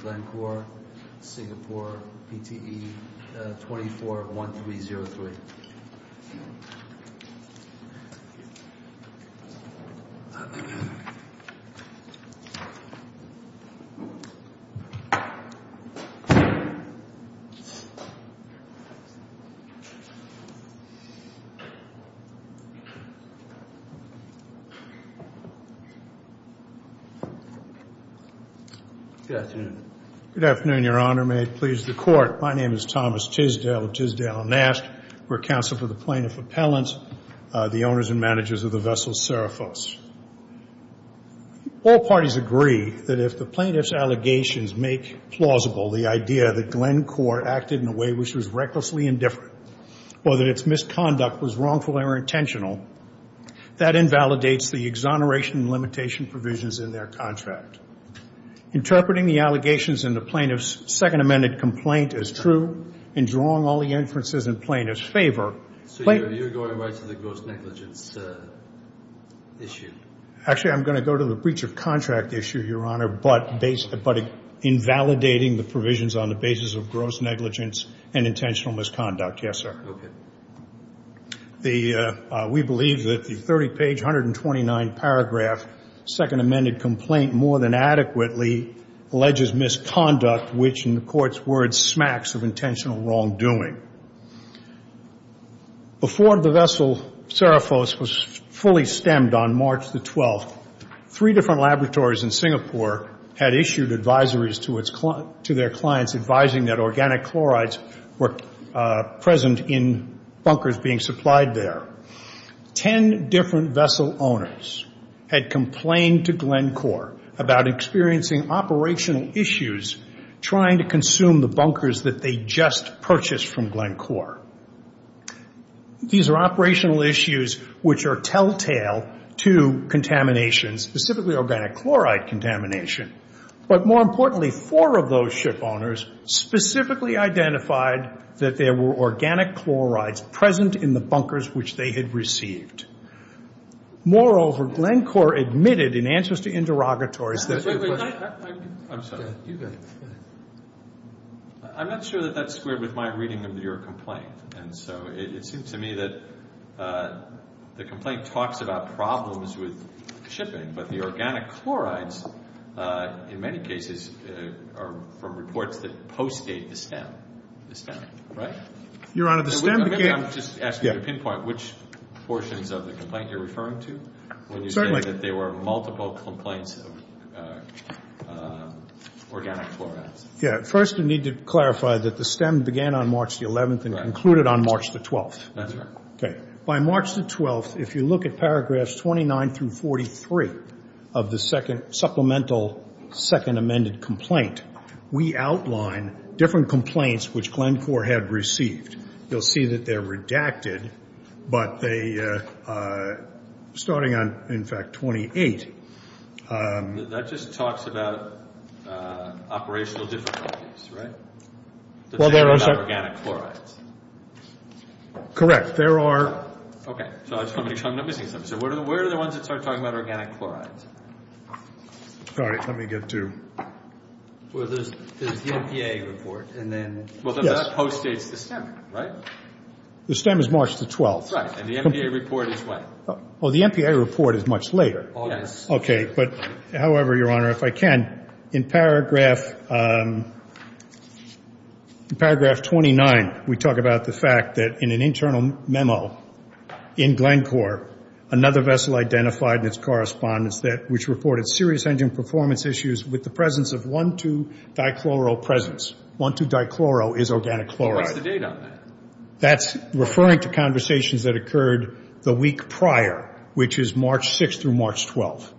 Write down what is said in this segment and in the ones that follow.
Glencore Singapore Pte Ltd 241303 Good afternoon. Good afternoon, Your Honor. May it please the court. My name is Thomas Tisdale of Tisdale and Nask. We're counsel for the plaintiff appellants, the owners and managers of the vessel Seraphos. All parties agree that if the plaintiff's allegations make plausible the idea that Glencore acted in a way which was recklessly indifferent, or that its misconduct was wrongful or intentional, that invalidates the exoneration and limitation provisions in their contract. Interpreting the allegations in the plaintiff's second amended complaint as true and drawing all the inferences in plaintiff's favor. So you're going right to the gross negligence issue. Actually, I'm going to go to the breach of contract issue, Your Honor, but based, but invalidating the provisions on the basis of gross negligence and intentional misconduct. Yes, sir. The, uh, we believe that the 30 page 129 paragraph second amended complaint more than adequately alleges misconduct, which in the court's words, smacks of intentional wrongdoing. Before the vessel Seraphos was fully stemmed on March the 12th, three different laboratories in Singapore had issued advisories to its client, to their clients, advising that organic chlorides were present in bunkers being supplied there, 10 different vessel owners had complained to Glencore about experiencing operational issues, trying to consume the bunkers that they just purchased from Glencore. These are operational issues, which are telltale to contamination, specifically organic chloride contamination, but more importantly, four of those ship owners specifically identified that there were organic chlorides present in the bunkers, which they had received. Moreover, Glencore admitted in answers to interrogatories that... Wait, wait, I'm sorry, I'm not sure that that's squared with my reading of your complaint, and so it seems to me that, uh, the complaint talks about problems with shipping, but the organic chlorides, uh, in many cases, uh, are from reports that post-date the stem, the stem, right? Your Honor, the stem... I'm just asking you to pinpoint which portions of the complaint you're referring to when you say that there were multiple complaints of, uh, organic chlorides. Yeah. First, we need to clarify that the stem began on March the 11th and concluded on March the 12th. Okay. By March the 12th, if you look at paragraphs 29 through 43 of the second supplemental second amended complaint, we outline different complaints, which Glencore had received. You'll see that they're redacted, but they, uh, uh, starting on, in fact, 28. Um... That just talks about, uh, operational difficulties, right? Well, there are... That's not about organic chlorides. Correct. There are... Okay. So I just want to make sure I'm not missing something. So where are the ones that start talking about organic chlorides? Sorry, let me get to... Well, there's the MPA report, and then... Yes. Well, then that post-dates the stem. Right? The stem is March the 12th. Right. And the MPA report is what? Oh, the MPA report is much later. Oh, yes. Okay. But however, Your Honor, if I can, in paragraph, um, in paragraph 29, we talk about the fact that in an internal memo in Glencore, another vessel identified in its correspondence that, which reported serious engine performance issues with the presence of 1,2-dichloro presence. 1,2-dichloro is organic chloride. What's the date on that? That's referring to conversations that occurred the week prior, which is March 6th through March 12th.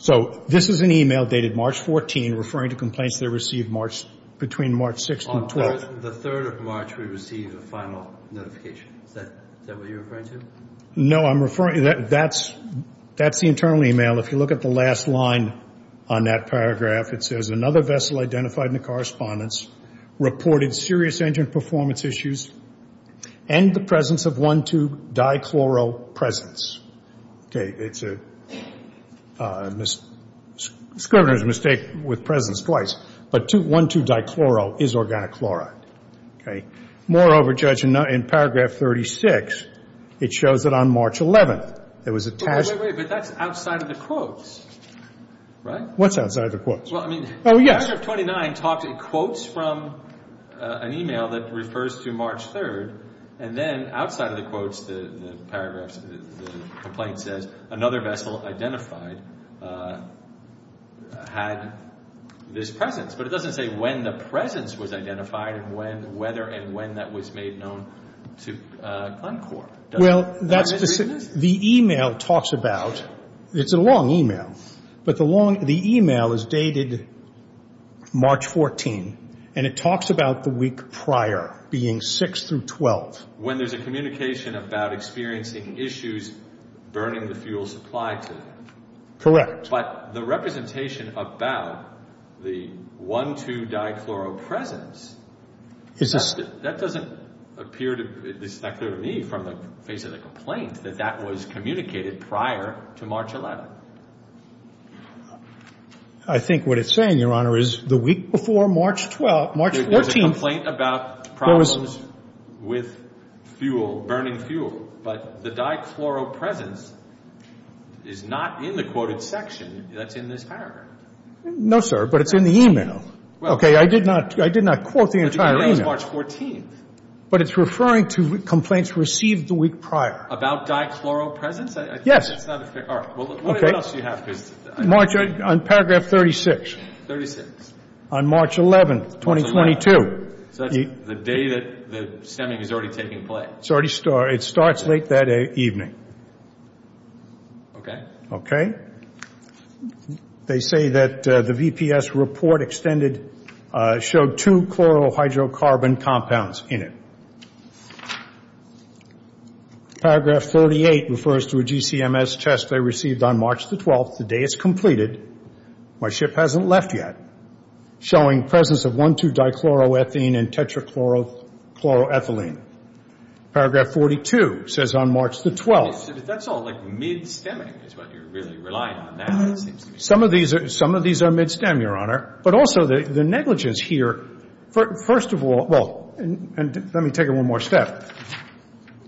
So this is an email dated March 14, referring to complaints that were received March, between March 6th and 12th. On the 3rd of March, we received a final notification. Is that, is that what you're referring to? No, I'm referring, that, that's, that's the internal email. If you look at the last line on that paragraph, it says another vessel identified in the correspondence reported serious engine performance issues and the presence of 1,2-dichloro presence. It's a, uh, mis, Scrivener's mistake with presence twice, but 2, 1,2-dichloro is organic chloride. Okay. Moreover, Judge, in paragraph 36, it shows that on March 11th, there was a task- Wait, wait, wait, but that's outside of the quotes, right? What's outside of the quotes? Well, I mean- Oh, yes. The measure of 29 talks in quotes from, uh, an email that refers to March 3rd. And then outside of the quotes, the, the paragraphs, the complaint says another vessel identified, uh, had this presence, but it doesn't say when the presence was identified and when, whether, and when that was made known to, uh, Glencore. Well, that's the email talks about, it's a long email, but the long, the email is dated March 14th, and it talks about the week prior being 6 through 12. When there's a communication about experiencing issues burning the fuel supply to them. Correct. But the representation about the 1,2-dichloro presence, that doesn't appear to, it's not clear to me from the face of the complaint that that was communicated prior to March 11th. I think what it's saying, Your Honor, is the week before March 12th, March 14th- There's a complaint about problems with fuel, burning fuel, but the dichloro presence is not in the quoted section that's in this paragraph. No, sir. But it's in the email. Okay. I did not, I did not quote the entire email. But the email is March 14th. But it's referring to complaints received the week prior. About dichloro presence? I think that's not a fair, all right. Well, what else do you have? March, on paragraph 36, on March 11th, 2022. So that's the day that the stemming is already taking place. It's already, it starts late that evening. Okay. Okay. They say that the VPS report extended, showed two chlorohydrocarbon compounds in it. Paragraph 38 refers to a GCMS test they received on March the 12th, the day it's completed, my ship hasn't left yet, showing presence of 1,2-dichloroethene and tetrachloroethylene. Paragraph 42 says on March the 12th- But that's all like mid-stemming is what you're really relying on now, it seems to me. Some of these are, some of these are mid-stem, Your Honor. But also the negligence here, first of all, well, and let me take you one more step,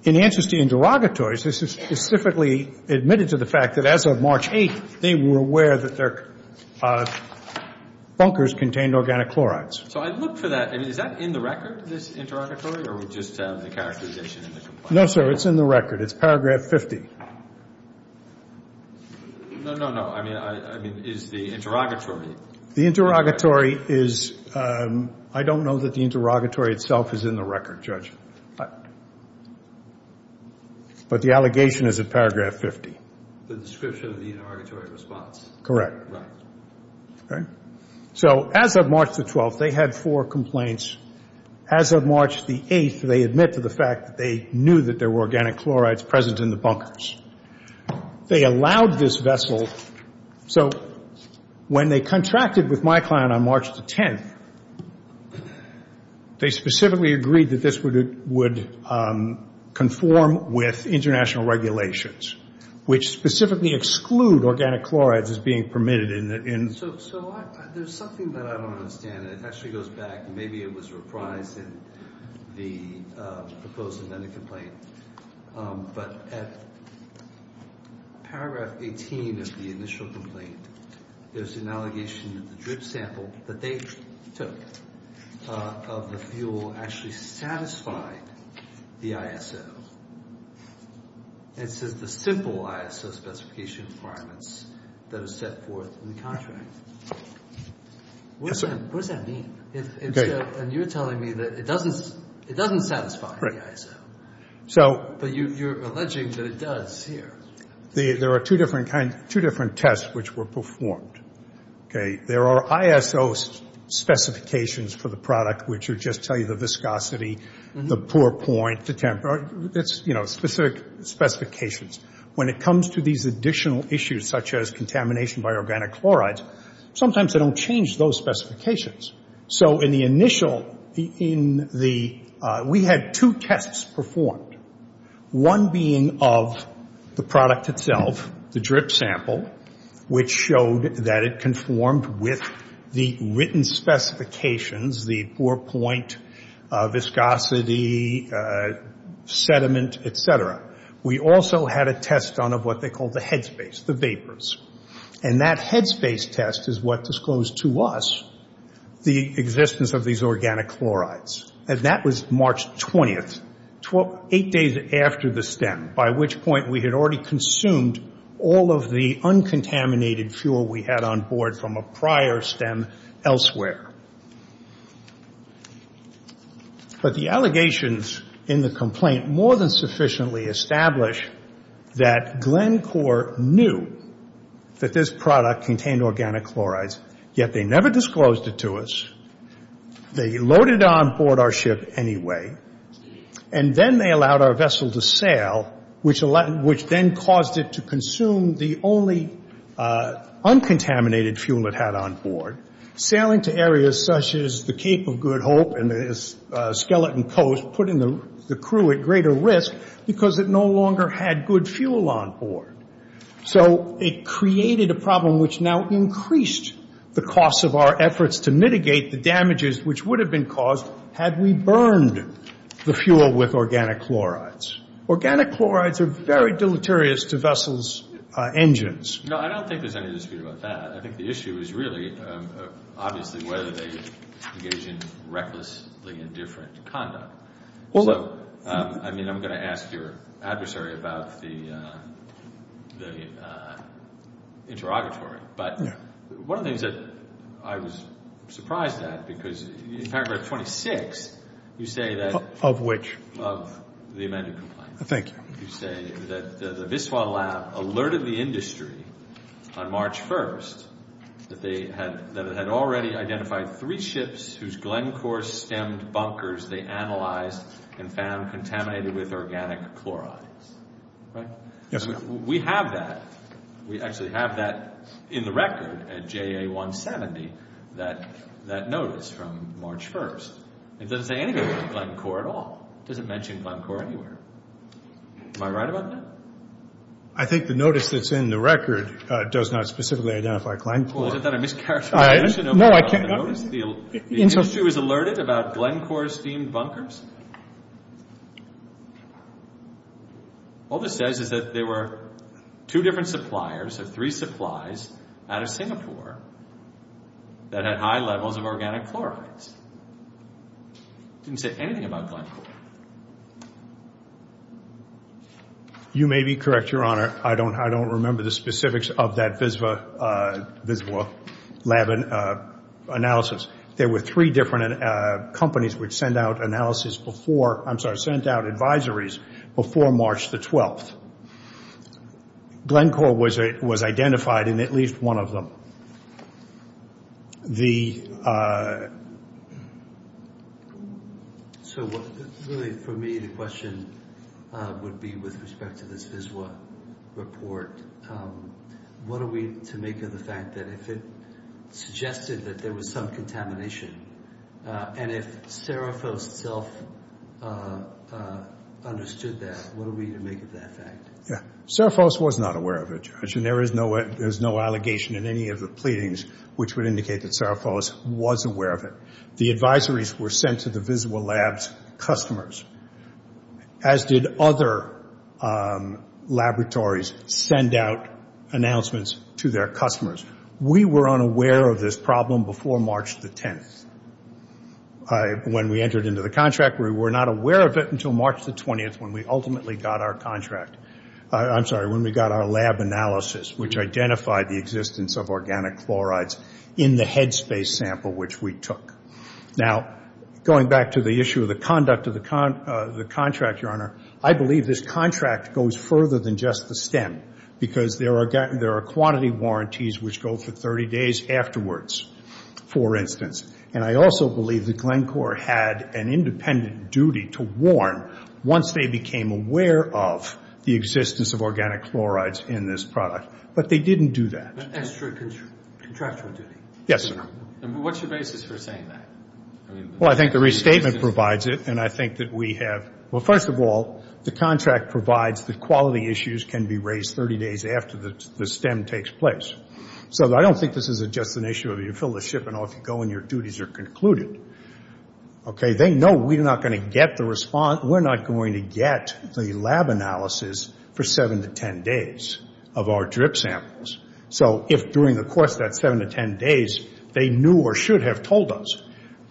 in answers to interrogatories, this is specifically admitted to the fact that as of March 8th, they were aware that their bunkers contained organic chlorides. So I look for that, I mean, is that in the record, this interrogatory, or we just have the characterization in the complaint? No, sir, it's in the record. It's paragraph 50. No, no, no. I mean, I, I mean, is the interrogatory- The interrogatory is, I don't know that the interrogatory itself is in the record, Judge, but the allegation is in paragraph 50. The description of the interrogatory response. Correct. Right. Okay. So as of March the 12th, they had four complaints. As of March the 8th, they admit to the fact that they knew that there were organic chlorides present in the bunkers. They allowed this vessel, so when they contracted with my client on March the 10th, they specifically agreed that this would, would conform with international regulations, which specifically exclude organic chlorides as being permitted in- So, so I, there's something that I don't understand, and it actually goes back, and maybe it was reprised in the proposed amendment complaint, but at paragraph 18 of the initial complaint, there's an allegation that the drip sample that they took of the fuel actually satisfied the ISO. It says the simple ISO specification requirements that are set forth in the contract. What does that, what does that mean? If, if so, and you're telling me that it doesn't, it doesn't satisfy the ISO. So- But you, you're alleging that it does here. The, there are two different kinds, two different tests which were performed. Okay, there are ISO specifications for the product, which are just tell you the viscosity, the pour point, the temp, it's, you know, specific specifications. When it comes to these additional issues, such as contamination by organic chlorides, sometimes they don't change those specifications. So in the initial, in the, we had two tests performed, one being of the product itself, the drip sample, which showed that it conformed with the written specifications, the pour point, viscosity, sediment, et cetera. We also had a test done of what they call the headspace, the vapors. And that headspace test is what disclosed to us the existence of these organic chlorides, and that was March 20th, eight days after the stem, by which point we had already consumed all of the uncontaminated fuel we had on board from a prior stem elsewhere. But the allegations in the complaint more than sufficiently established that Glencore knew that this product contained organic chlorides, yet they never disclosed it to us. They loaded on board our ship anyway, and then they allowed our vessel to sail, which then caused it to consume the only uncontaminated fuel it had on board, sailing to areas such as the Cape of Good Hope and the Skeleton Coast, putting the crew at greater risk because it no longer had good fuel on board. So it created a problem which now increased the cost of our efforts to mitigate the damages which would have been caused had we burned the fuel with organic chlorides. Organic chlorides are very deleterious to vessels' engines. No, I don't think there's any dispute about that. I think the issue is really, obviously, whether they engage in recklessly indifferent conduct. Although, I mean, I'm going to ask your adversary about the interrogatory, but one of the things that I was surprised at, because in paragraph 26, you say that of which? Of the amended complaint. Thank you. You say that the Viscois lab alerted the industry on March 1st that it had already identified three ships whose Glencore stemmed bunkers they analyzed and found contaminated with organic chlorides, right? Yes, sir. We have that. We actually have that in the record at JA 170, that notice from March 1st. It doesn't say anything about Glencore at all. It doesn't mention Glencore anywhere. Am I right about that? I think the notice that's in the record does not specifically identify Glencore. Well, isn't that a mischaracterization of the notice? The industry was alerted about Glencore-steamed bunkers? All this says is that there were two different suppliers, or three supplies, out of Singapore that had high levels of organic chlorides. It didn't say anything about Glencore. You may be correct, Your Honor. I don't remember the specifics of that Viscois lab analysis. There were three different companies which sent out advisories before March the 12th. Glencore was identified in at least one of them. So, really, for me, the question would be with respect to this Viscois report, what are we to make of the fact that if it suggested that there was some contamination, and if Seraphos itself understood that, what are we to make of that fact? Yeah. There's no allegation in any of the pleadings which would indicate that Seraphos was aware of it. The advisories were sent to the Viscois lab's customers, as did other laboratories send out announcements to their customers. We were unaware of this problem before March the 10th. When we entered into the contract, we were not aware of it until March the 20th, when we ultimately got our contract. Now, going back to the issue of the conduct of the contract, Your Honor, I believe this contract goes further than just the stem, because there are quantity warranties which go for 30 days afterwards, for instance. And I also believe that Glencore had an independent duty to warn once they became aware of the existence of organic chlorides in this product. But they didn't do that. That's true. Contractual duty. Yes, sir. And what's your basis for saying that? Well, I think the restatement provides it. And I think that we have, well, first of all, the contract provides that quality issues can be raised 30 days after the stem takes place. So I don't think this is just an issue of you fill the ship and off you go and your duties are concluded. Okay. They know we're not going to get the response. So if during the course of that 7 to 10 days, they knew or should have told us.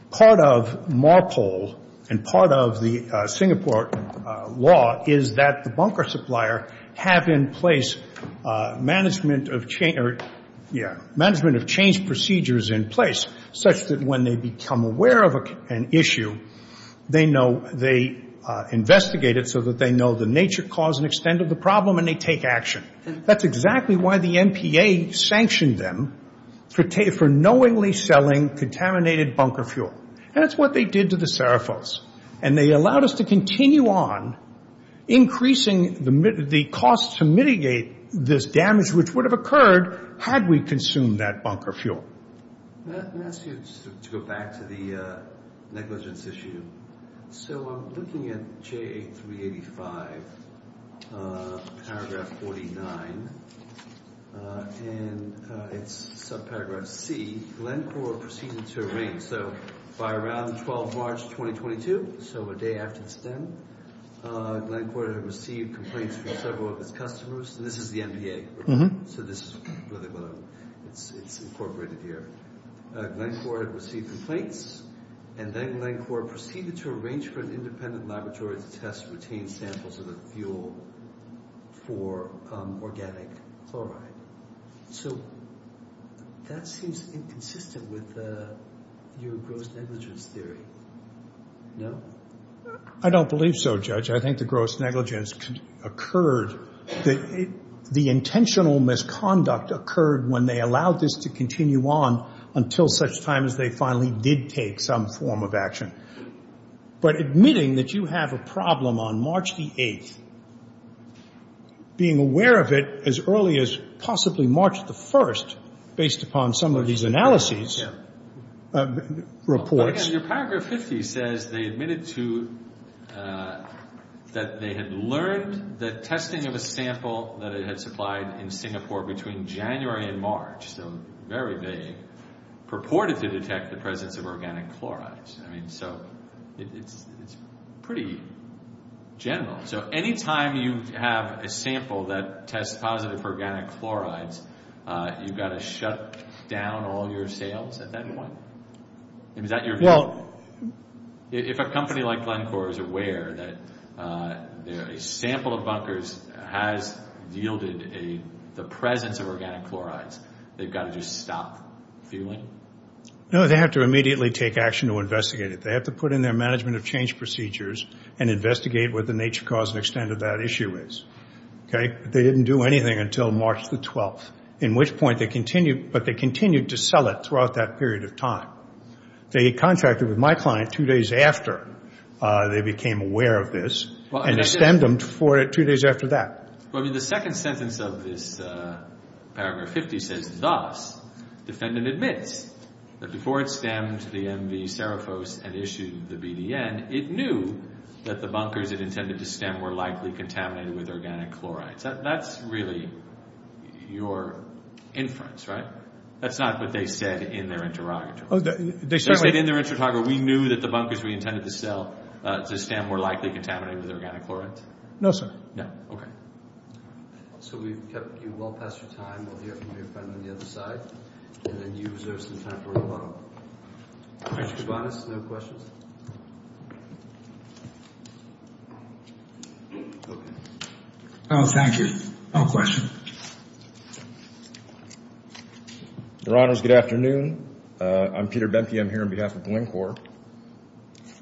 Part of MARPOL and part of the Singapore law is that the bunker supplier have in place management of change procedures in place such that when they become aware of an issue, they investigate it so that they know the nature, cause, and extent of the problem and they take action. That's exactly why the MPA sanctioned them for knowingly selling contaminated bunker fuel. And that's what they did to the Seraphos. And they allowed us to continue on increasing the cost to mitigate this damage, which would have occurred had we consumed that bunker fuel. Let me ask you to go back to the negligence issue. So I'm looking at J385 paragraph 49 and it's subparagraph C, Glencore proceeded to So by around 12 March, 2022, so a day after the stem, Glencore had received complaints from several of its customers. This is the MPA. So this is really what it's incorporated here. Glencore had received complaints and then Glencore proceeded to arrange for an independent laboratory to test, retain samples of the fuel for organic chloride. So that seems inconsistent with your gross negligence theory. No? I don't believe so, Judge. I think the gross negligence occurred. The intentional misconduct occurred when they allowed this to continue on until such time as they finally did take some form of action. But admitting that you have a problem on March the 8th, being aware of it as early as possibly March the 1st, based upon some of these analyses, reports. Your paragraph 50 says they admitted to, that they had learned the testing of a sample that it had supplied in Singapore between January and March. So very vague, purported to detect the presence of organic chlorides. I mean, so it's pretty general. So anytime you have a sample that tests positive for organic chlorides, you've got to shut down all your sales at that point. Is that your view? If a company like Glencore is aware that a sample of bunkers has yielded the presence of organic chlorides, they've got to just stop fueling? No, they have to immediately take action to investigate it. They have to put in their management of change procedures and investigate what the nature, cause, and extent of that issue is. Okay? They didn't do anything until March the 12th, in which point they continued, but they didn't do anything throughout that period of time. They contracted with my client two days after they became aware of this, and they stemmed them for it two days after that. Well, I mean, the second sentence of this paragraph 50 says, thus, defendant admits that before it stemmed the MV Seraphos and issued the BDN, it knew that the bunkers it intended to stem were likely contaminated with organic chlorides. That's really your inference, right? That's not what they said in their interrogatory. They said in their interrogatory, we knew that the bunkers we intended to stem were likely contaminated with organic chlorides? No, sir. No. Okay. So we've kept you well past your time. We'll hear from your friend on the other side, and then you reserve some time for rebuttal. Mr. Cabanas, no questions? Oh, thank you. No questions. Your Honors, good afternoon. I'm Peter Bentke. I'm here on behalf of the Lincorps.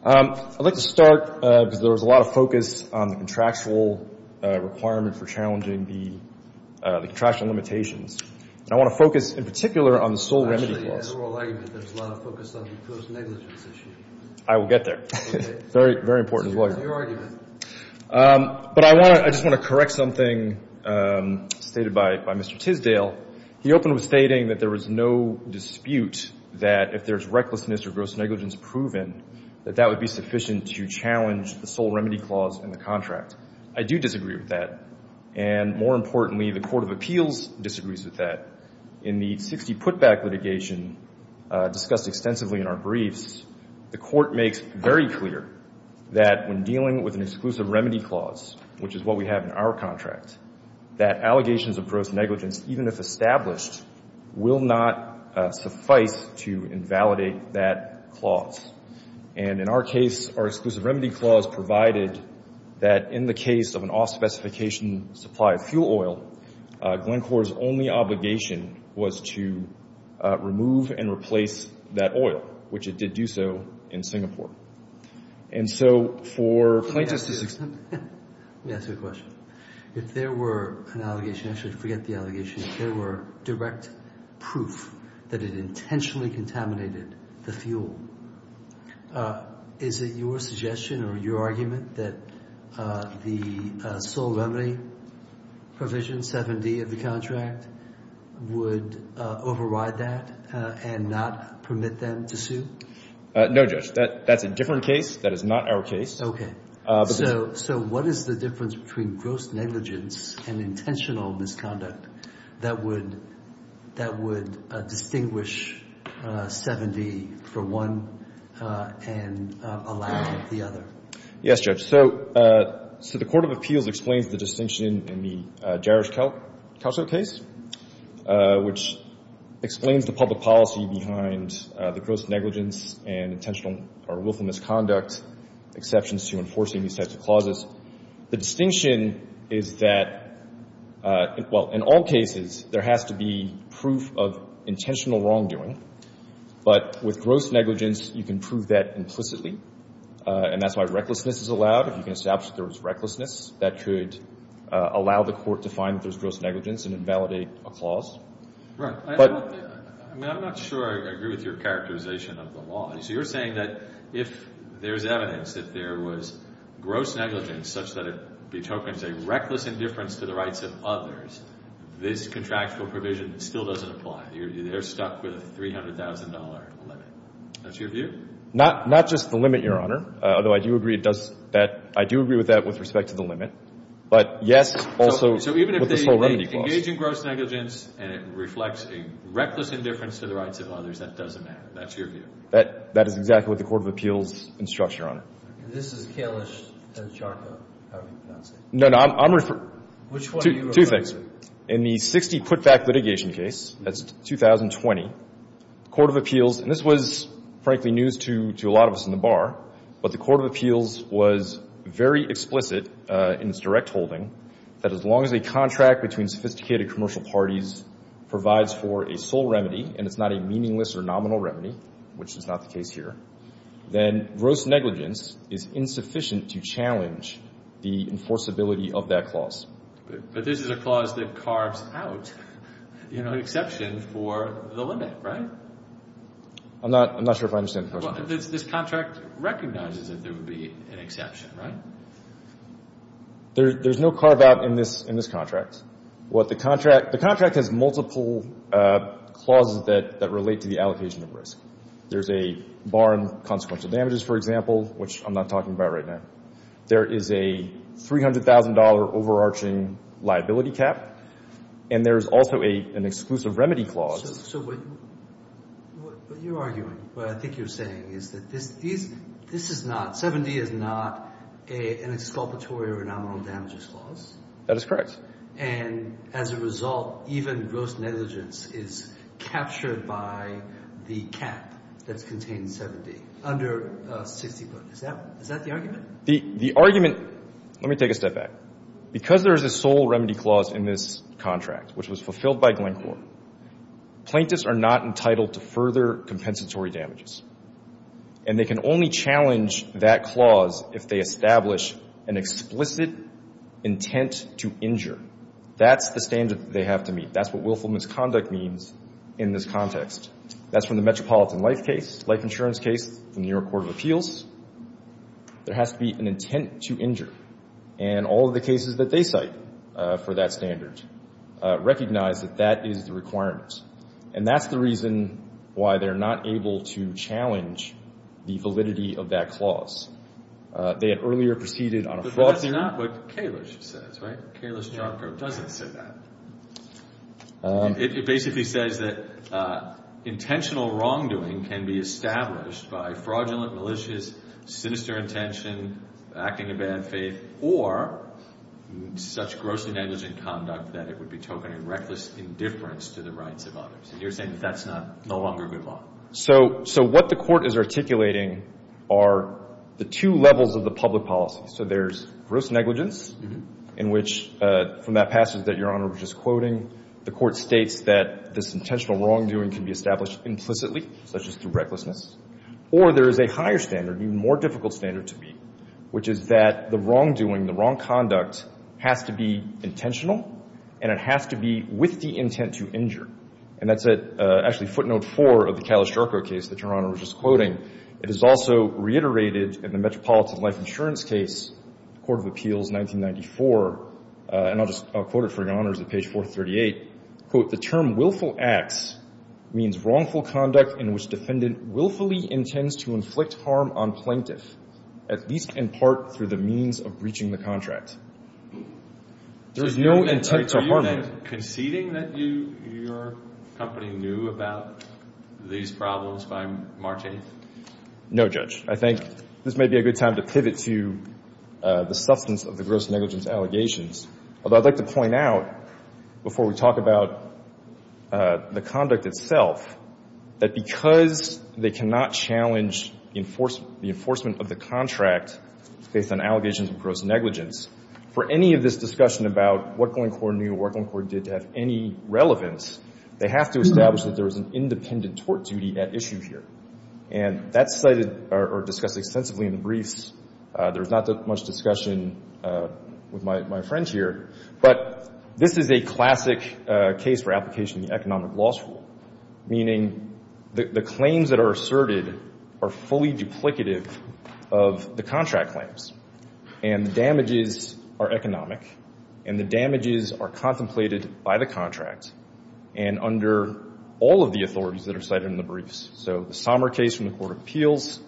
I'd like to start because there was a lot of focus on the contractual requirement for challenging the contractual limitations, and I want to focus in particular on the sole remedy clause. Actually, in the oral argument, there was a lot of focus on the post-negligence issue. I will get there. Okay. Very important as well. This is your argument. But I just want to correct something stated by Mr. Tisdale. He opened with stating that there was no dispute that if there's recklessness or gross negligence proven, that that would be sufficient to challenge the sole remedy clause in the contract. I do disagree with that. And more importantly, the Court of Appeals disagrees with that. In the 60 put-back litigation discussed extensively in our briefs, the Court makes very clear that when dealing with an exclusive remedy clause, which is what we have in our contract, that allegations of gross negligence, even if established, will not suffice to invalidate that clause. And in our case, our exclusive remedy clause provided that in the case of an off- specification supply of fuel oil, Lincorps' only obligation was to remove and replace that oil, which it did do so in Singapore. And so for plaintiffs to successfully let me ask you a question. If there were an allegation, actually forget the allegation, if there were direct proof that it intentionally contaminated the fuel, is it your suggestion or your argument that the sole remedy provision 7D of the contract would override that and not permit them to sue? No, Judge. That's a different case. That is not our case. Okay. So what is the difference between gross negligence and intentional misconduct that would distinguish 7D from one and allow the other? Yes, Judge. So the Court of Appeals explains the distinction in the Jarosch-Kauser case, which explains the public policy behind the gross negligence and intentional or willful misconduct exceptions to enforcing these types of clauses. The distinction is that, well, in all cases, there has to be proof of intentional wrongdoing. But with gross negligence, you can prove that implicitly. And that's why recklessness is allowed. If you can establish that there was recklessness, that could allow the Court to find that there's gross negligence and invalidate a clause. Right. But I'm not sure I agree with your characterization of the law. So you're saying that if there's evidence that there was gross negligence such that it betokens a reckless indifference to the rights of others, this contractual provision still doesn't apply. They're stuck with a $300,000 limit. That's your view? Not just the limit, Your Honor. Although I do agree with that with respect to the limit. But, yes, also with this whole remedy clause. So even if they engage in gross negligence and it reflects a reckless indifference to the rights of others, that doesn't matter. That's your view? That is exactly what the Court of Appeals instructs, Your Honor. This is Kalish and Charco, however you pronounce it. No, no. Which one are you referring to? Two things. In the 60 put-back litigation case, that's 2020, the Court of Appeals, and this was, frankly, news to a lot of us in the bar, but the Court of Appeals was very explicit in its direct holding that as long as a contract between sophisticated commercial parties provides for a sole remedy and it's not a meaningless or nominal remedy, which is not the case here, then gross negligence is insufficient to challenge the enforceability of that clause. But this is a clause that carves out an exception for the limit, right? I'm not sure if I understand the question. This contract recognizes that there would be an exception, right? There's no carve-out in this contract. Well, the contract has multiple clauses that relate to the allocation of risk. There's a bar in consequential damages, for example, which I'm not talking about right now. There is a $300,000 overarching liability cap, and there's also an exclusive remedy clause. So what you're arguing, what I think you're saying, is that this is not, 7D is not an exculpatory or a nominal damages clause? That is correct. And as a result, even gross negligence is captured by the cap that's contained in 7D, under 60 foot. Is that the argument? The argument, let me take a step back. Because there is a sole remedy clause in this contract, which was fulfilled by Glencore, plaintiffs are not entitled to further compensatory damages. And they can only challenge that clause if they establish an explicit intent to injure. That's the standard that they have to meet. That's what willful misconduct means in this context. That's from the Metropolitan Life case, life insurance case, the New York Court of Appeals. There has to be an intent to injure. And all of the cases that they cite for that standard recognize that that is the requirement. And that's the reason why they're not able to challenge the validity of that clause. They had earlier proceeded on a fraud theory. But that's not what Kalish says, right? Kalish Charco doesn't say that. It basically says that intentional wrongdoing can be established by fraudulent, malicious, sinister intention, acting in bad faith, or such gross negligent conduct that it would be token of reckless indifference to the rights of others. And you're saying that that's no longer good law. So what the Court is articulating are the two levels of the public policy. So there's gross negligence, in which, from that passage that Your Honor was just quoting, the Court states that this intentional wrongdoing can be established implicitly, such as through recklessness. Or there is a higher standard, an even more difficult standard to meet, which is that the wrongdoing, the wrong conduct, has to be intentional, and it has to be with the intent to injure. And that's actually footnote four of the Kalish Charco case that Your Honor was just quoting. It is also reiterated in the Metropolitan Life Insurance case, Court of Appeals, 1994. And I'll just quote it for Your Honor. It's at page 438. Quote, The term willful acts means wrongful conduct in which defendant willfully intends to inflict harm on plaintiff, at least in part through the means of breaching the contract. There's no intent to harm him. Are you conceding that your company knew about these problems by March 8th? No, Judge. I think this may be a good time to pivot to the substance of the gross negligence allegations, although I'd like to point out, before we talk about the conduct itself, that because they cannot challenge the enforcement of the contract based on allegations of gross negligence, for any of this discussion about what Glencore knew or what Glencore did to have any relevance, they have to establish that there was an independent tort duty at issue here. And that's cited or discussed extensively in the briefs. There's not that much discussion with my friends here. But this is a classic case for application of the economic loss rule, meaning the claims that are asserted are fully duplicative of the contract claims. And the damages are economic, and the damages are contemplated by the contract. And under all of the authorities that are cited in the briefs, so the Sommer case from the Court of Appeals,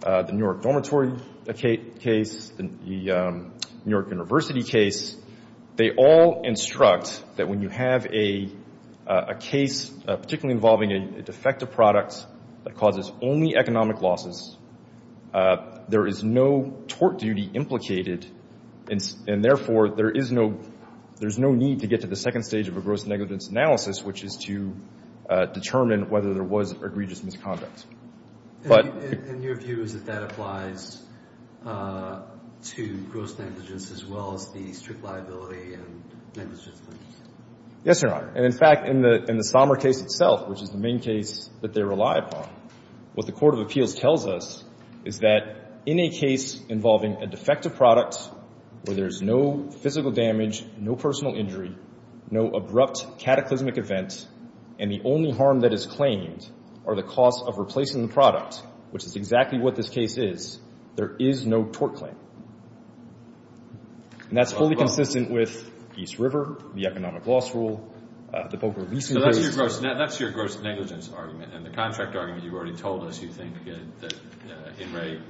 the New York dormitory case, the New York University case, they all instruct that when you have a case, particularly involving a defective product that causes only economic losses, there is no tort duty implicated. And therefore, there is no need to get to the second stage of a gross negligence analysis, which is to determine whether there was egregious misconduct. And your view is that that applies to gross negligence as well as the strict liability and negligence? Yes, Your Honor. And, in fact, in the Sommer case itself, which is the main case that they rely upon, what the Court of Appeals tells us is that in a case involving a defective product where there's no physical damage, no personal injury, no abrupt cataclysmic event, and the only harm that is claimed are the costs of replacing the product, which is exactly what this case is, there is no tort claim. And that's fully consistent with East River, the economic loss rule, the poker lease incursion. So that's your gross negligence argument. And the contract argument you've already told us you think that in rate,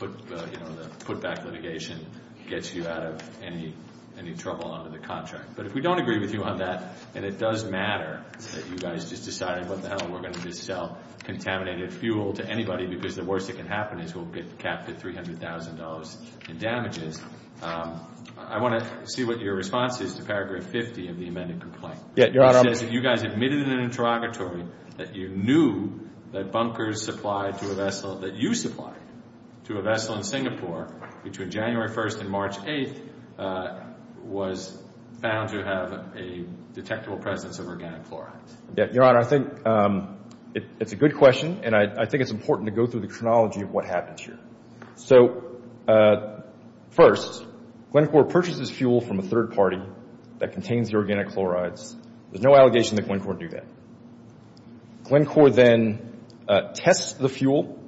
you know, the putback litigation gets you out of any trouble under the contract. But if we don't agree with you on that, and it does matter that you guys just decided, what the hell, we're going to just sell contaminated fuel to anybody because the worst that can happen is we'll get capped at $300,000 in damages, I want to see what your response is to paragraph 50 of the amended complaint. Yes, Your Honor. It says that you guys admitted in an interrogatory that you knew that bunkers supplied to a vessel, that you supplied to a vessel in Singapore between January 1st and March 8th was found to have a detectable presence of organic fluoride. Your Honor, I think it's a good question, and I think it's important to go through the chronology of what happened here. So first, Glencore purchases fuel from a third party that contains the organic chlorides. There's no allegation that Glencore would do that. Glencore then tests the fuel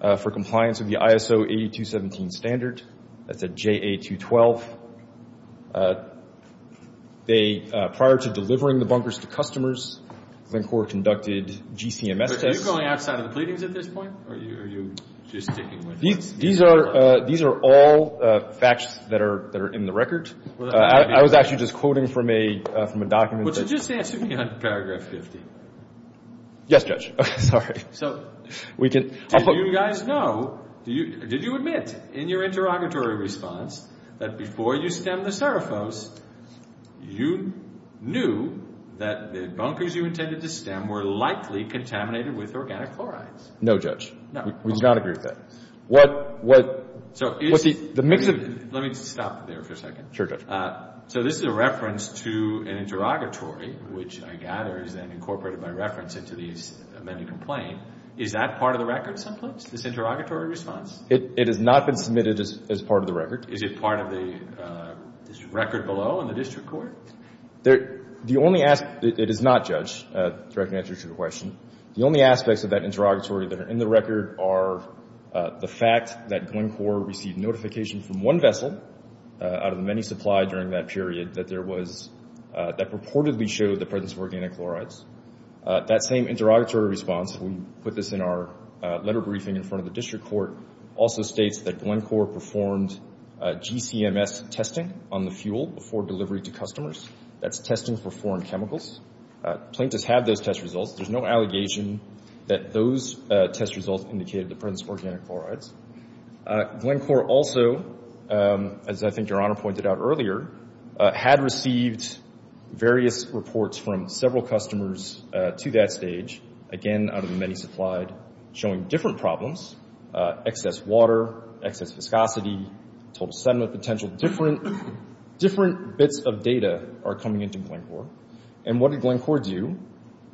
for compliance with the ISO 8217 standard. That's a JA212. Prior to delivering the bunkers to customers, Glencore conducted GCMS tests. Are you going outside of the pleadings at this point, or are you just sticking with it? These are all facts that are in the record. I was actually just quoting from a document. Just answer me on paragraph 50. Yes, Judge. Okay, sorry. Okay, so do you guys know, did you admit in your interrogatory response that before you stemmed the seraphos, you knew that the bunkers you intended to stem were likely contaminated with organic chlorides? No, Judge. No. We did not agree with that. Let me stop there for a second. Sure, Judge. So this is a reference to an interrogatory, which I gather is then incorporated by reference into the amended complaint. Is that part of the record someplace, this interrogatory response? It has not been submitted as part of the record. Is it part of the record below in the district court? The only aspect, it is not, Judge, the direct answer to your question. The only aspects of that interrogatory that are in the record are the fact that Glencore received notification from one vessel out of the many supplied during that period that purportedly showed the presence of organic chlorides. That same interrogatory response, we put this in our letter briefing in front of the district court, also states that Glencore performed GCMS testing on the fuel before delivery to customers. That's testing for foreign chemicals. Plaintiffs have those test results. There's no allegation that those test results indicated the presence of organic chlorides. Glencore also, as I think Your Honor pointed out earlier, had received various reports from several customers to that stage, again out of the many supplied, showing different problems, excess water, excess viscosity, total sediment potential. Different bits of data are coming into Glencore. And what did Glencore do?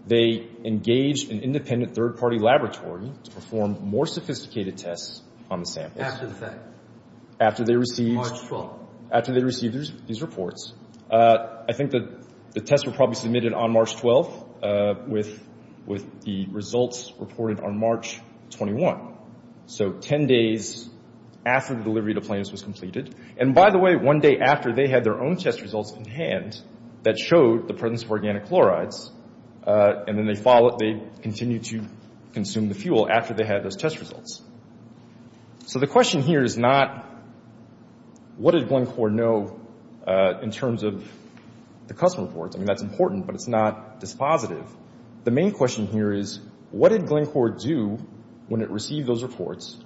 They engaged an independent third-party laboratory to perform more sophisticated tests on the samples. After the fact. After they received. March 12th. After they received these reports. I think the tests were probably submitted on March 12th with the results reported on March 21. So 10 days after the delivery to plaintiffs was completed. And, by the way, one day after they had their own test results in hand that showed the presence of organic chlorides, and then they continued to consume the fuel after they had those test results. So the question here is not, what did Glencore know in terms of the customer reports? I mean, that's important, but it's not dispositive. The main question here is, what did Glencore do when it received those reports,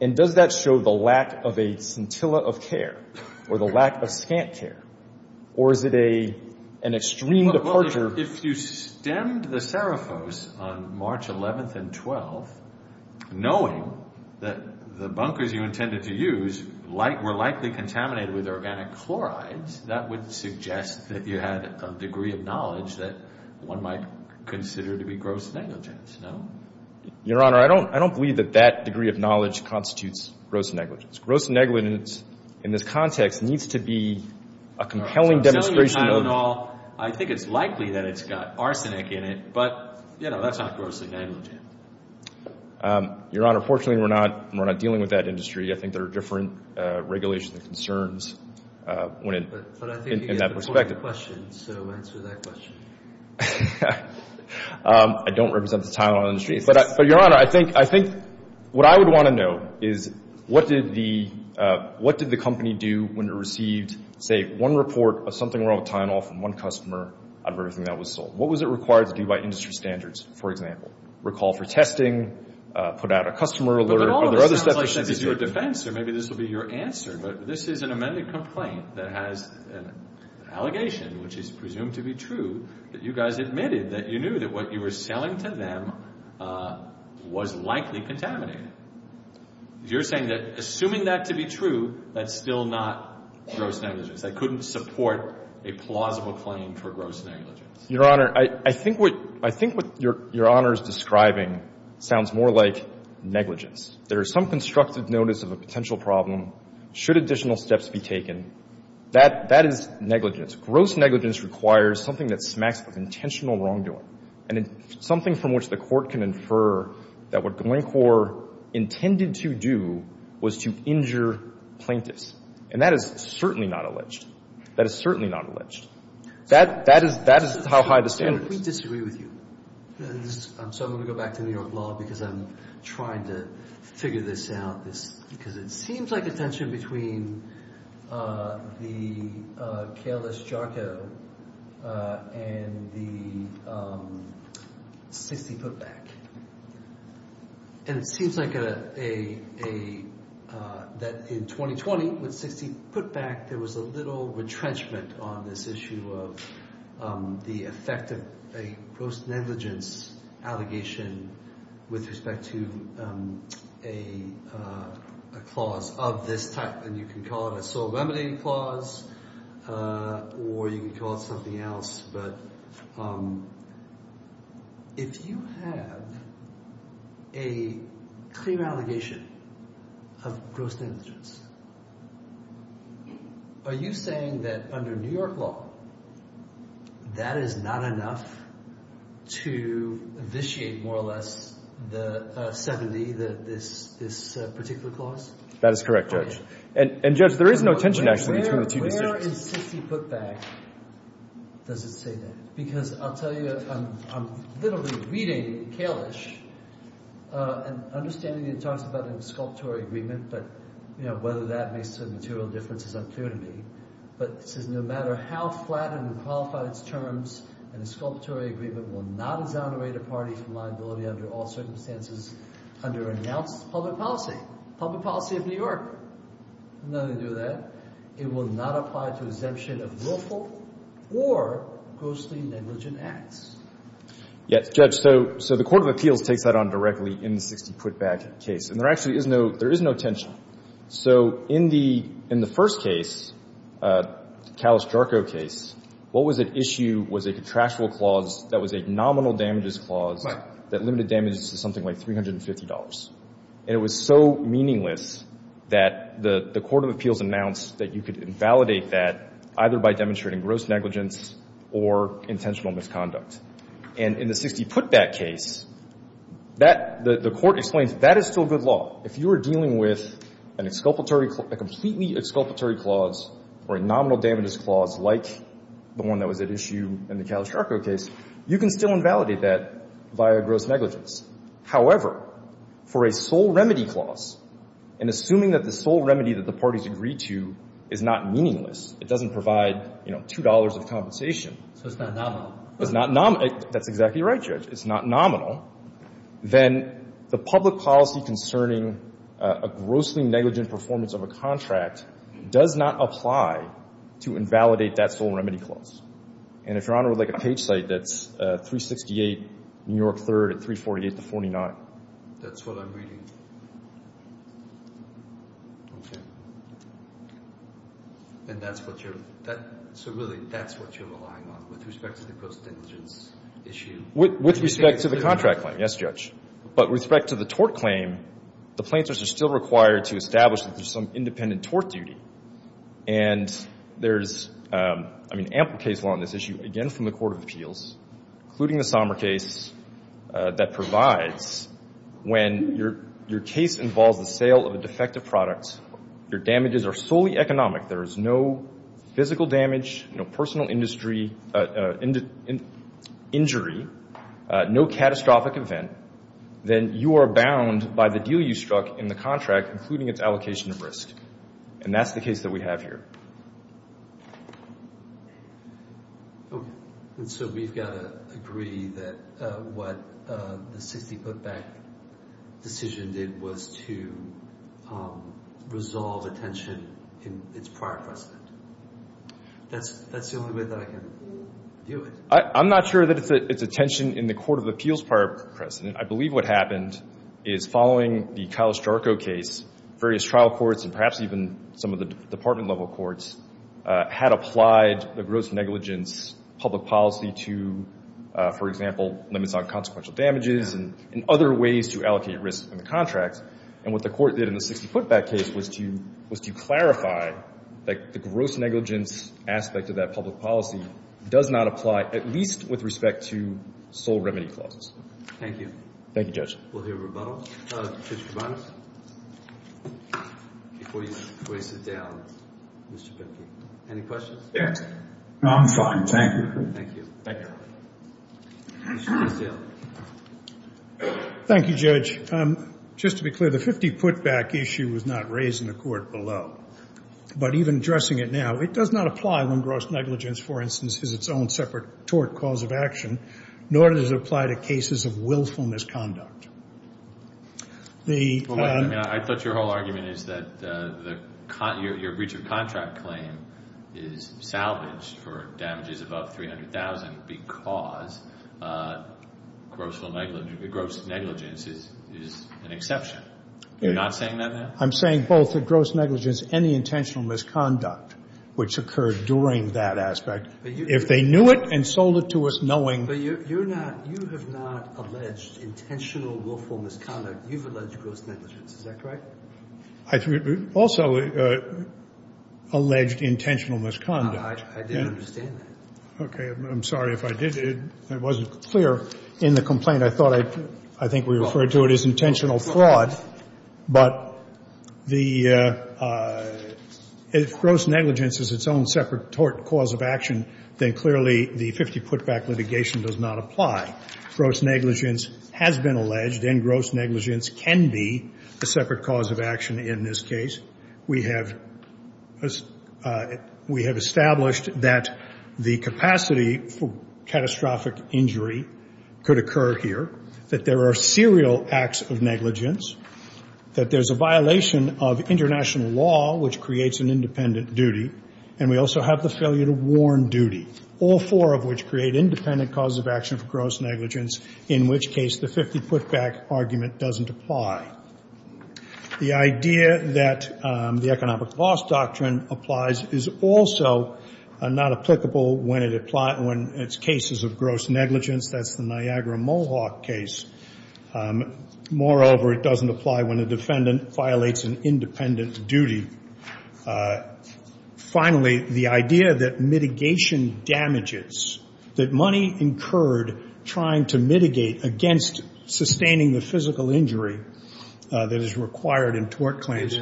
and does that show the lack of a scintilla of care or the lack of scant care, or is it an extreme departure? Well, if you stemmed the serifose on March 11th and 12th, knowing that the bunkers you intended to use were likely contaminated with organic chlorides, that would suggest that you had a degree of knowledge that one might consider to be gross negligence, no? Your Honor, I don't believe that that degree of knowledge constitutes gross negligence. Gross negligence in this context needs to be a compelling demonstration of… I'm telling you, Tylenol, I think it's likely that it's got arsenic in it, but, you know, that's not gross negligence. Your Honor, fortunately, we're not dealing with that industry. I think there are different regulations and concerns in that perspective. But I think you get the point of the question, so answer that question. I don't represent the Tylenol industry. But, Your Honor, I think what I would want to know is what did the company do when it received, say, one report of something wrong with Tylenol from one customer out of everything that was sold? What was it required to do by industry standards, for example, recall for testing, put out a customer alert? But all of this sounds like it's your defense, so maybe this will be your answer. But this is an amended complaint that has an allegation, which is presumed to be true, that you guys admitted that you knew that what you were selling to them was likely contaminated. You're saying that assuming that to be true, that's still not gross negligence. I couldn't support a plausible claim for gross negligence. Your Honor, I think what Your Honor is describing sounds more like negligence. There is some constructive notice of a potential problem. Should additional steps be taken, that is negligence. Gross negligence requires something that smacks of intentional wrongdoing and something from which the court can infer that what Glencore intended to do was to injure plaintiffs. And that is certainly not alleged. That is certainly not alleged. That is how high the standard is. I completely disagree with you. So I'm going to go back to New York law because I'm trying to figure this out. Because it seems like a tension between the careless jargo and the 60 putback. And it seems like in 2020, with 60 putback, there was a little retrenchment on this issue of the effect of a gross negligence allegation with respect to a clause of this type. And you can call it a sole remedy clause or you can call it something else. But if you have a clear allegation of gross negligence, are you saying that under New York law, that is not enough to vitiate more or less the 70, this particular clause? That is correct, Judge. And Judge, there is no tension actually between the two decisions. Where is 60 putback? Does it say that? Because I'll tell you, I'm literally reading Kalish and understanding he talks about a sculptural agreement, but whether that makes a material difference is unclear to me. But it says no matter how flat and qualified its terms, a sculptural agreement will not exonerate a party from liability under all circumstances under announced public policy. Public policy of New York. None do that. It will not apply to exemption of lawful or grossly negligent acts. Yes, Judge. So the court of appeals takes that on directly in the 60 putback case. And there actually is no – there is no tension. So in the first case, Kalish-Jarco case, what was at issue was a contractual clause that was a nominal damages clause that limited damages to something like $350. And it was so meaningless that the court of appeals announced that you could invalidate that either by demonstrating gross negligence or intentional misconduct. And in the 60 putback case, that – the court explains that is still good law. If you were dealing with an exculpatory – a completely exculpatory clause or a nominal damages clause like the one that was at issue in the Kalish-Jarco case, you can still invalidate that via gross negligence. However, for a sole remedy clause, and assuming that the sole remedy that the parties agree to is not meaningless, it doesn't provide, you know, $2 of compensation. So it's not nominal. It's not – that's exactly right, Judge. It's not nominal. Then the public policy concerning a grossly negligent performance of a contract does not apply to invalidate that sole remedy clause. And if you're on, like, a page site that's 368 New York 3rd at 348 to 49. That's what I'm reading. Okay. And that's what you're – so really, that's what you're relying on with respect to the gross negligence issue? With respect to the contract claim, yes, Judge. But with respect to the tort claim, the plaintiffs are still required to establish that there's some independent tort duty. And there's, I mean, ample case law on this issue, again, from the Court of Appeals, including the Sommer case, that provides when your case involves the sale of a defective product, your damages are solely economic. There is no physical damage, no personal injury, no catastrophic event. Then you are bound by the deal you struck in the contract, including its allocation of risk. And that's the case that we have here. Okay. And so we've got to agree that what the 60-foot bank decision did was to resolve a tension in its prior precedent. That's the only way that I can view it. I'm not sure that it's a tension in the Court of Appeals prior precedent. I believe what happened is, following the Kyle Strzarko case, various trial courts, and perhaps even some of the department-level courts, had applied the gross negligence public policy to, for example, limits on consequential damages and other ways to allocate risk in the contracts. And what the court did in the 60-foot bank case was to clarify that the gross negligence aspect of that public policy does not apply, at least with respect to sole remedy clauses. Thank you. Thank you, Judge. We'll hear rebuttals. Mr. Barnes, before you trace it down, Mr. Bickey, any questions? Yes. No, I'm fine. Thank you. Thank you. Thank you. Thank you, Judge. Just to be clear, the 50-foot bank issue was not raised in the Court below. But even addressing it now, it does not apply when gross negligence, for instance, is its own separate tort cause of action, nor does it apply to cases of willful misconduct. I thought your whole argument is that your breach of contract claim is salvaged for damages above $300,000 because gross negligence is an exception. You're not saying that now? I'm saying both the gross negligence and the intentional misconduct, which occurred during that aspect. If they knew it and sold it to us knowing you're not, you have not alleged intentional willful misconduct. You've alleged gross negligence. Is that correct? I also alleged intentional misconduct. I didn't understand that. Okay. I'm sorry if I did. It wasn't clear in the complaint. I think we referred to it as intentional fraud. But if gross negligence is its own separate tort cause of action, then clearly the 50-foot bank litigation does not apply. Gross negligence has been alleged, and gross negligence can be a separate cause of action in this case. We have established that the capacity for catastrophic injury could occur here, that there are serial acts of negligence, that there's a violation of international law, which creates an independent duty, and we also have the failure to warn duty, all four of which create independent causes of action for gross negligence, in which case the 50-foot bank argument doesn't apply. The idea that the economic loss doctrine applies is also not applicable when it's cases of gross negligence. That's the Niagara-Mohawk case. Moreover, it doesn't apply when a defendant violates an independent duty. Finally, the idea that mitigation damages, that money incurred trying to mitigate against sustaining the physical injury that is required in tort claims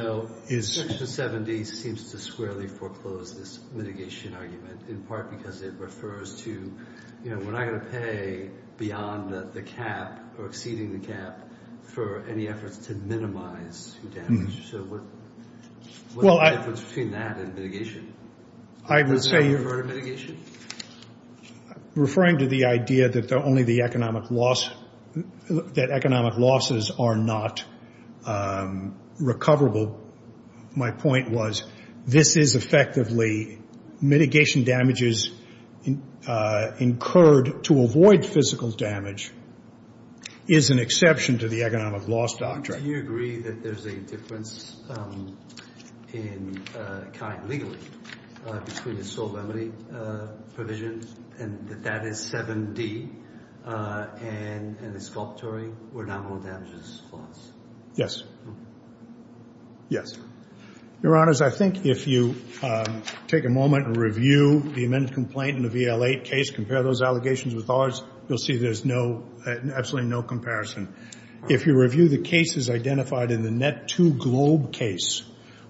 is- Section 70 seems to squarely foreclose this mitigation argument, in part because it refers to we're not going to pay beyond the cap or exceeding the cap for any efforts to minimize damage. So what's the difference between that and mitigation? I would say- Does that refer to mitigation? Referring to the idea that only the economic loss, that economic losses are not recoverable, my point was this is effectively mitigation damages incurred to avoid physical damage is an exception to the economic loss doctrine. Do you agree that there's a difference in kind, legally, between the sole remedy provisions, and that that is 7D and the exculpatory where nominal damages falls? Yes. Yes. Your Honors, I think if you take a moment and review the amended complaint in the VL-8 case, compare those allegations with ours, you'll see there's absolutely no comparison. If you review the cases identified in the Net-2 Globe case,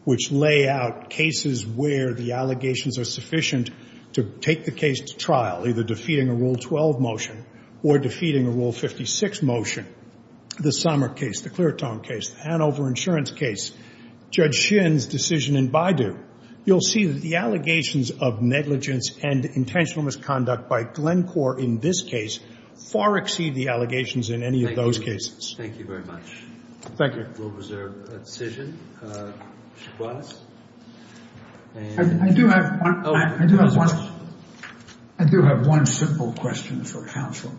which lay out cases where the allegations are sufficient to take the case to trial, either defeating a Rule 12 motion or defeating a Rule 56 motion, the Sommer case, the Cleartone case, the Hanover insurance case, Judge Shin's decision in Baidu, you'll see that the allegations of negligence and intentional misconduct by Glencore in this case far exceed the allegations in any of those cases. Thank you. Thank you very much. Thank you. We'll reserve a decision. I do have one simple question for counsel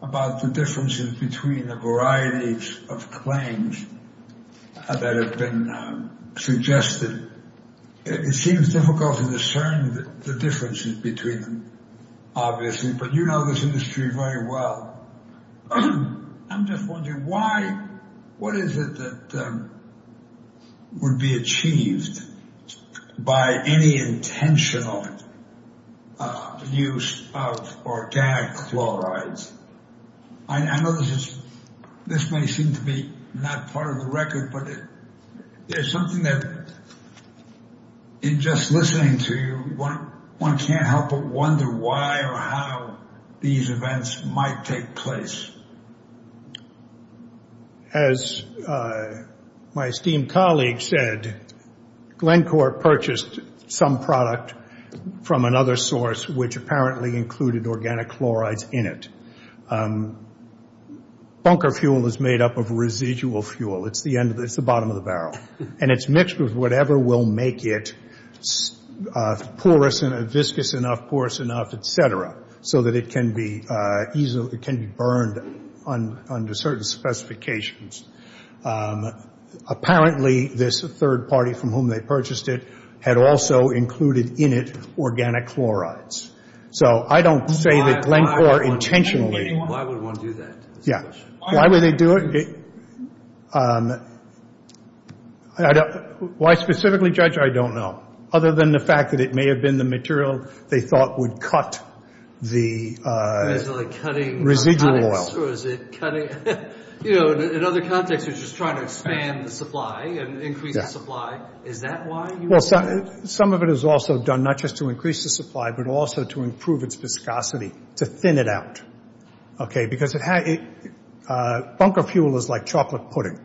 about the differences between the varieties of claims that have been suggested. It seems difficult to discern the differences between them, obviously, but you know this industry very well. I'm just wondering, what is it that would be achieved by any intentional use of organic chlorides? I know this may seem to be not part of the record, but there's something that, in just listening to you, one can't help but wonder why or how these events might take place. As my esteemed colleague said, Glencore purchased some product from another source, which apparently included organic chlorides in it. Bunker fuel is made up of residual fuel. It's the bottom of the barrel. And it's mixed with whatever will make it porous enough, viscous enough, porous enough, et cetera, so that it can be burned under certain specifications. Apparently, this third party from whom they purchased it had also included in it organic chlorides. So I don't say that Glencore intentionally. Why would one do that is the question. Why would they do it? Why specifically judge, I don't know, other than the fact that it may have been the material they thought would cut the residual oil. In other contexts, it's just trying to expand the supply and increase the supply. Is that why you would do that? Some of it is also done not just to increase the supply, but also to improve its viscosity, to thin it out. Okay, because bunker fuel is like chocolate pudding.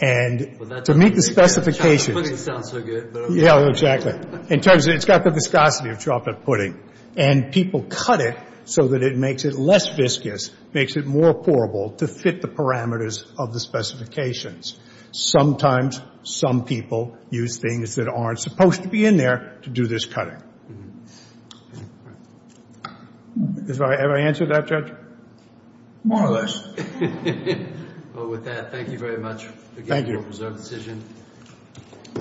And to meet the specifications. Chocolate pudding sounds so good. Yeah, exactly. In terms of it's got the viscosity of chocolate pudding. And people cut it so that it makes it less viscous, makes it more pourable to fit the parameters of the specifications. Sometimes some people use things that aren't supposed to be in there to do this cutting. Have I answered that, Judge? More or less. Well, with that, thank you very much. Thank you.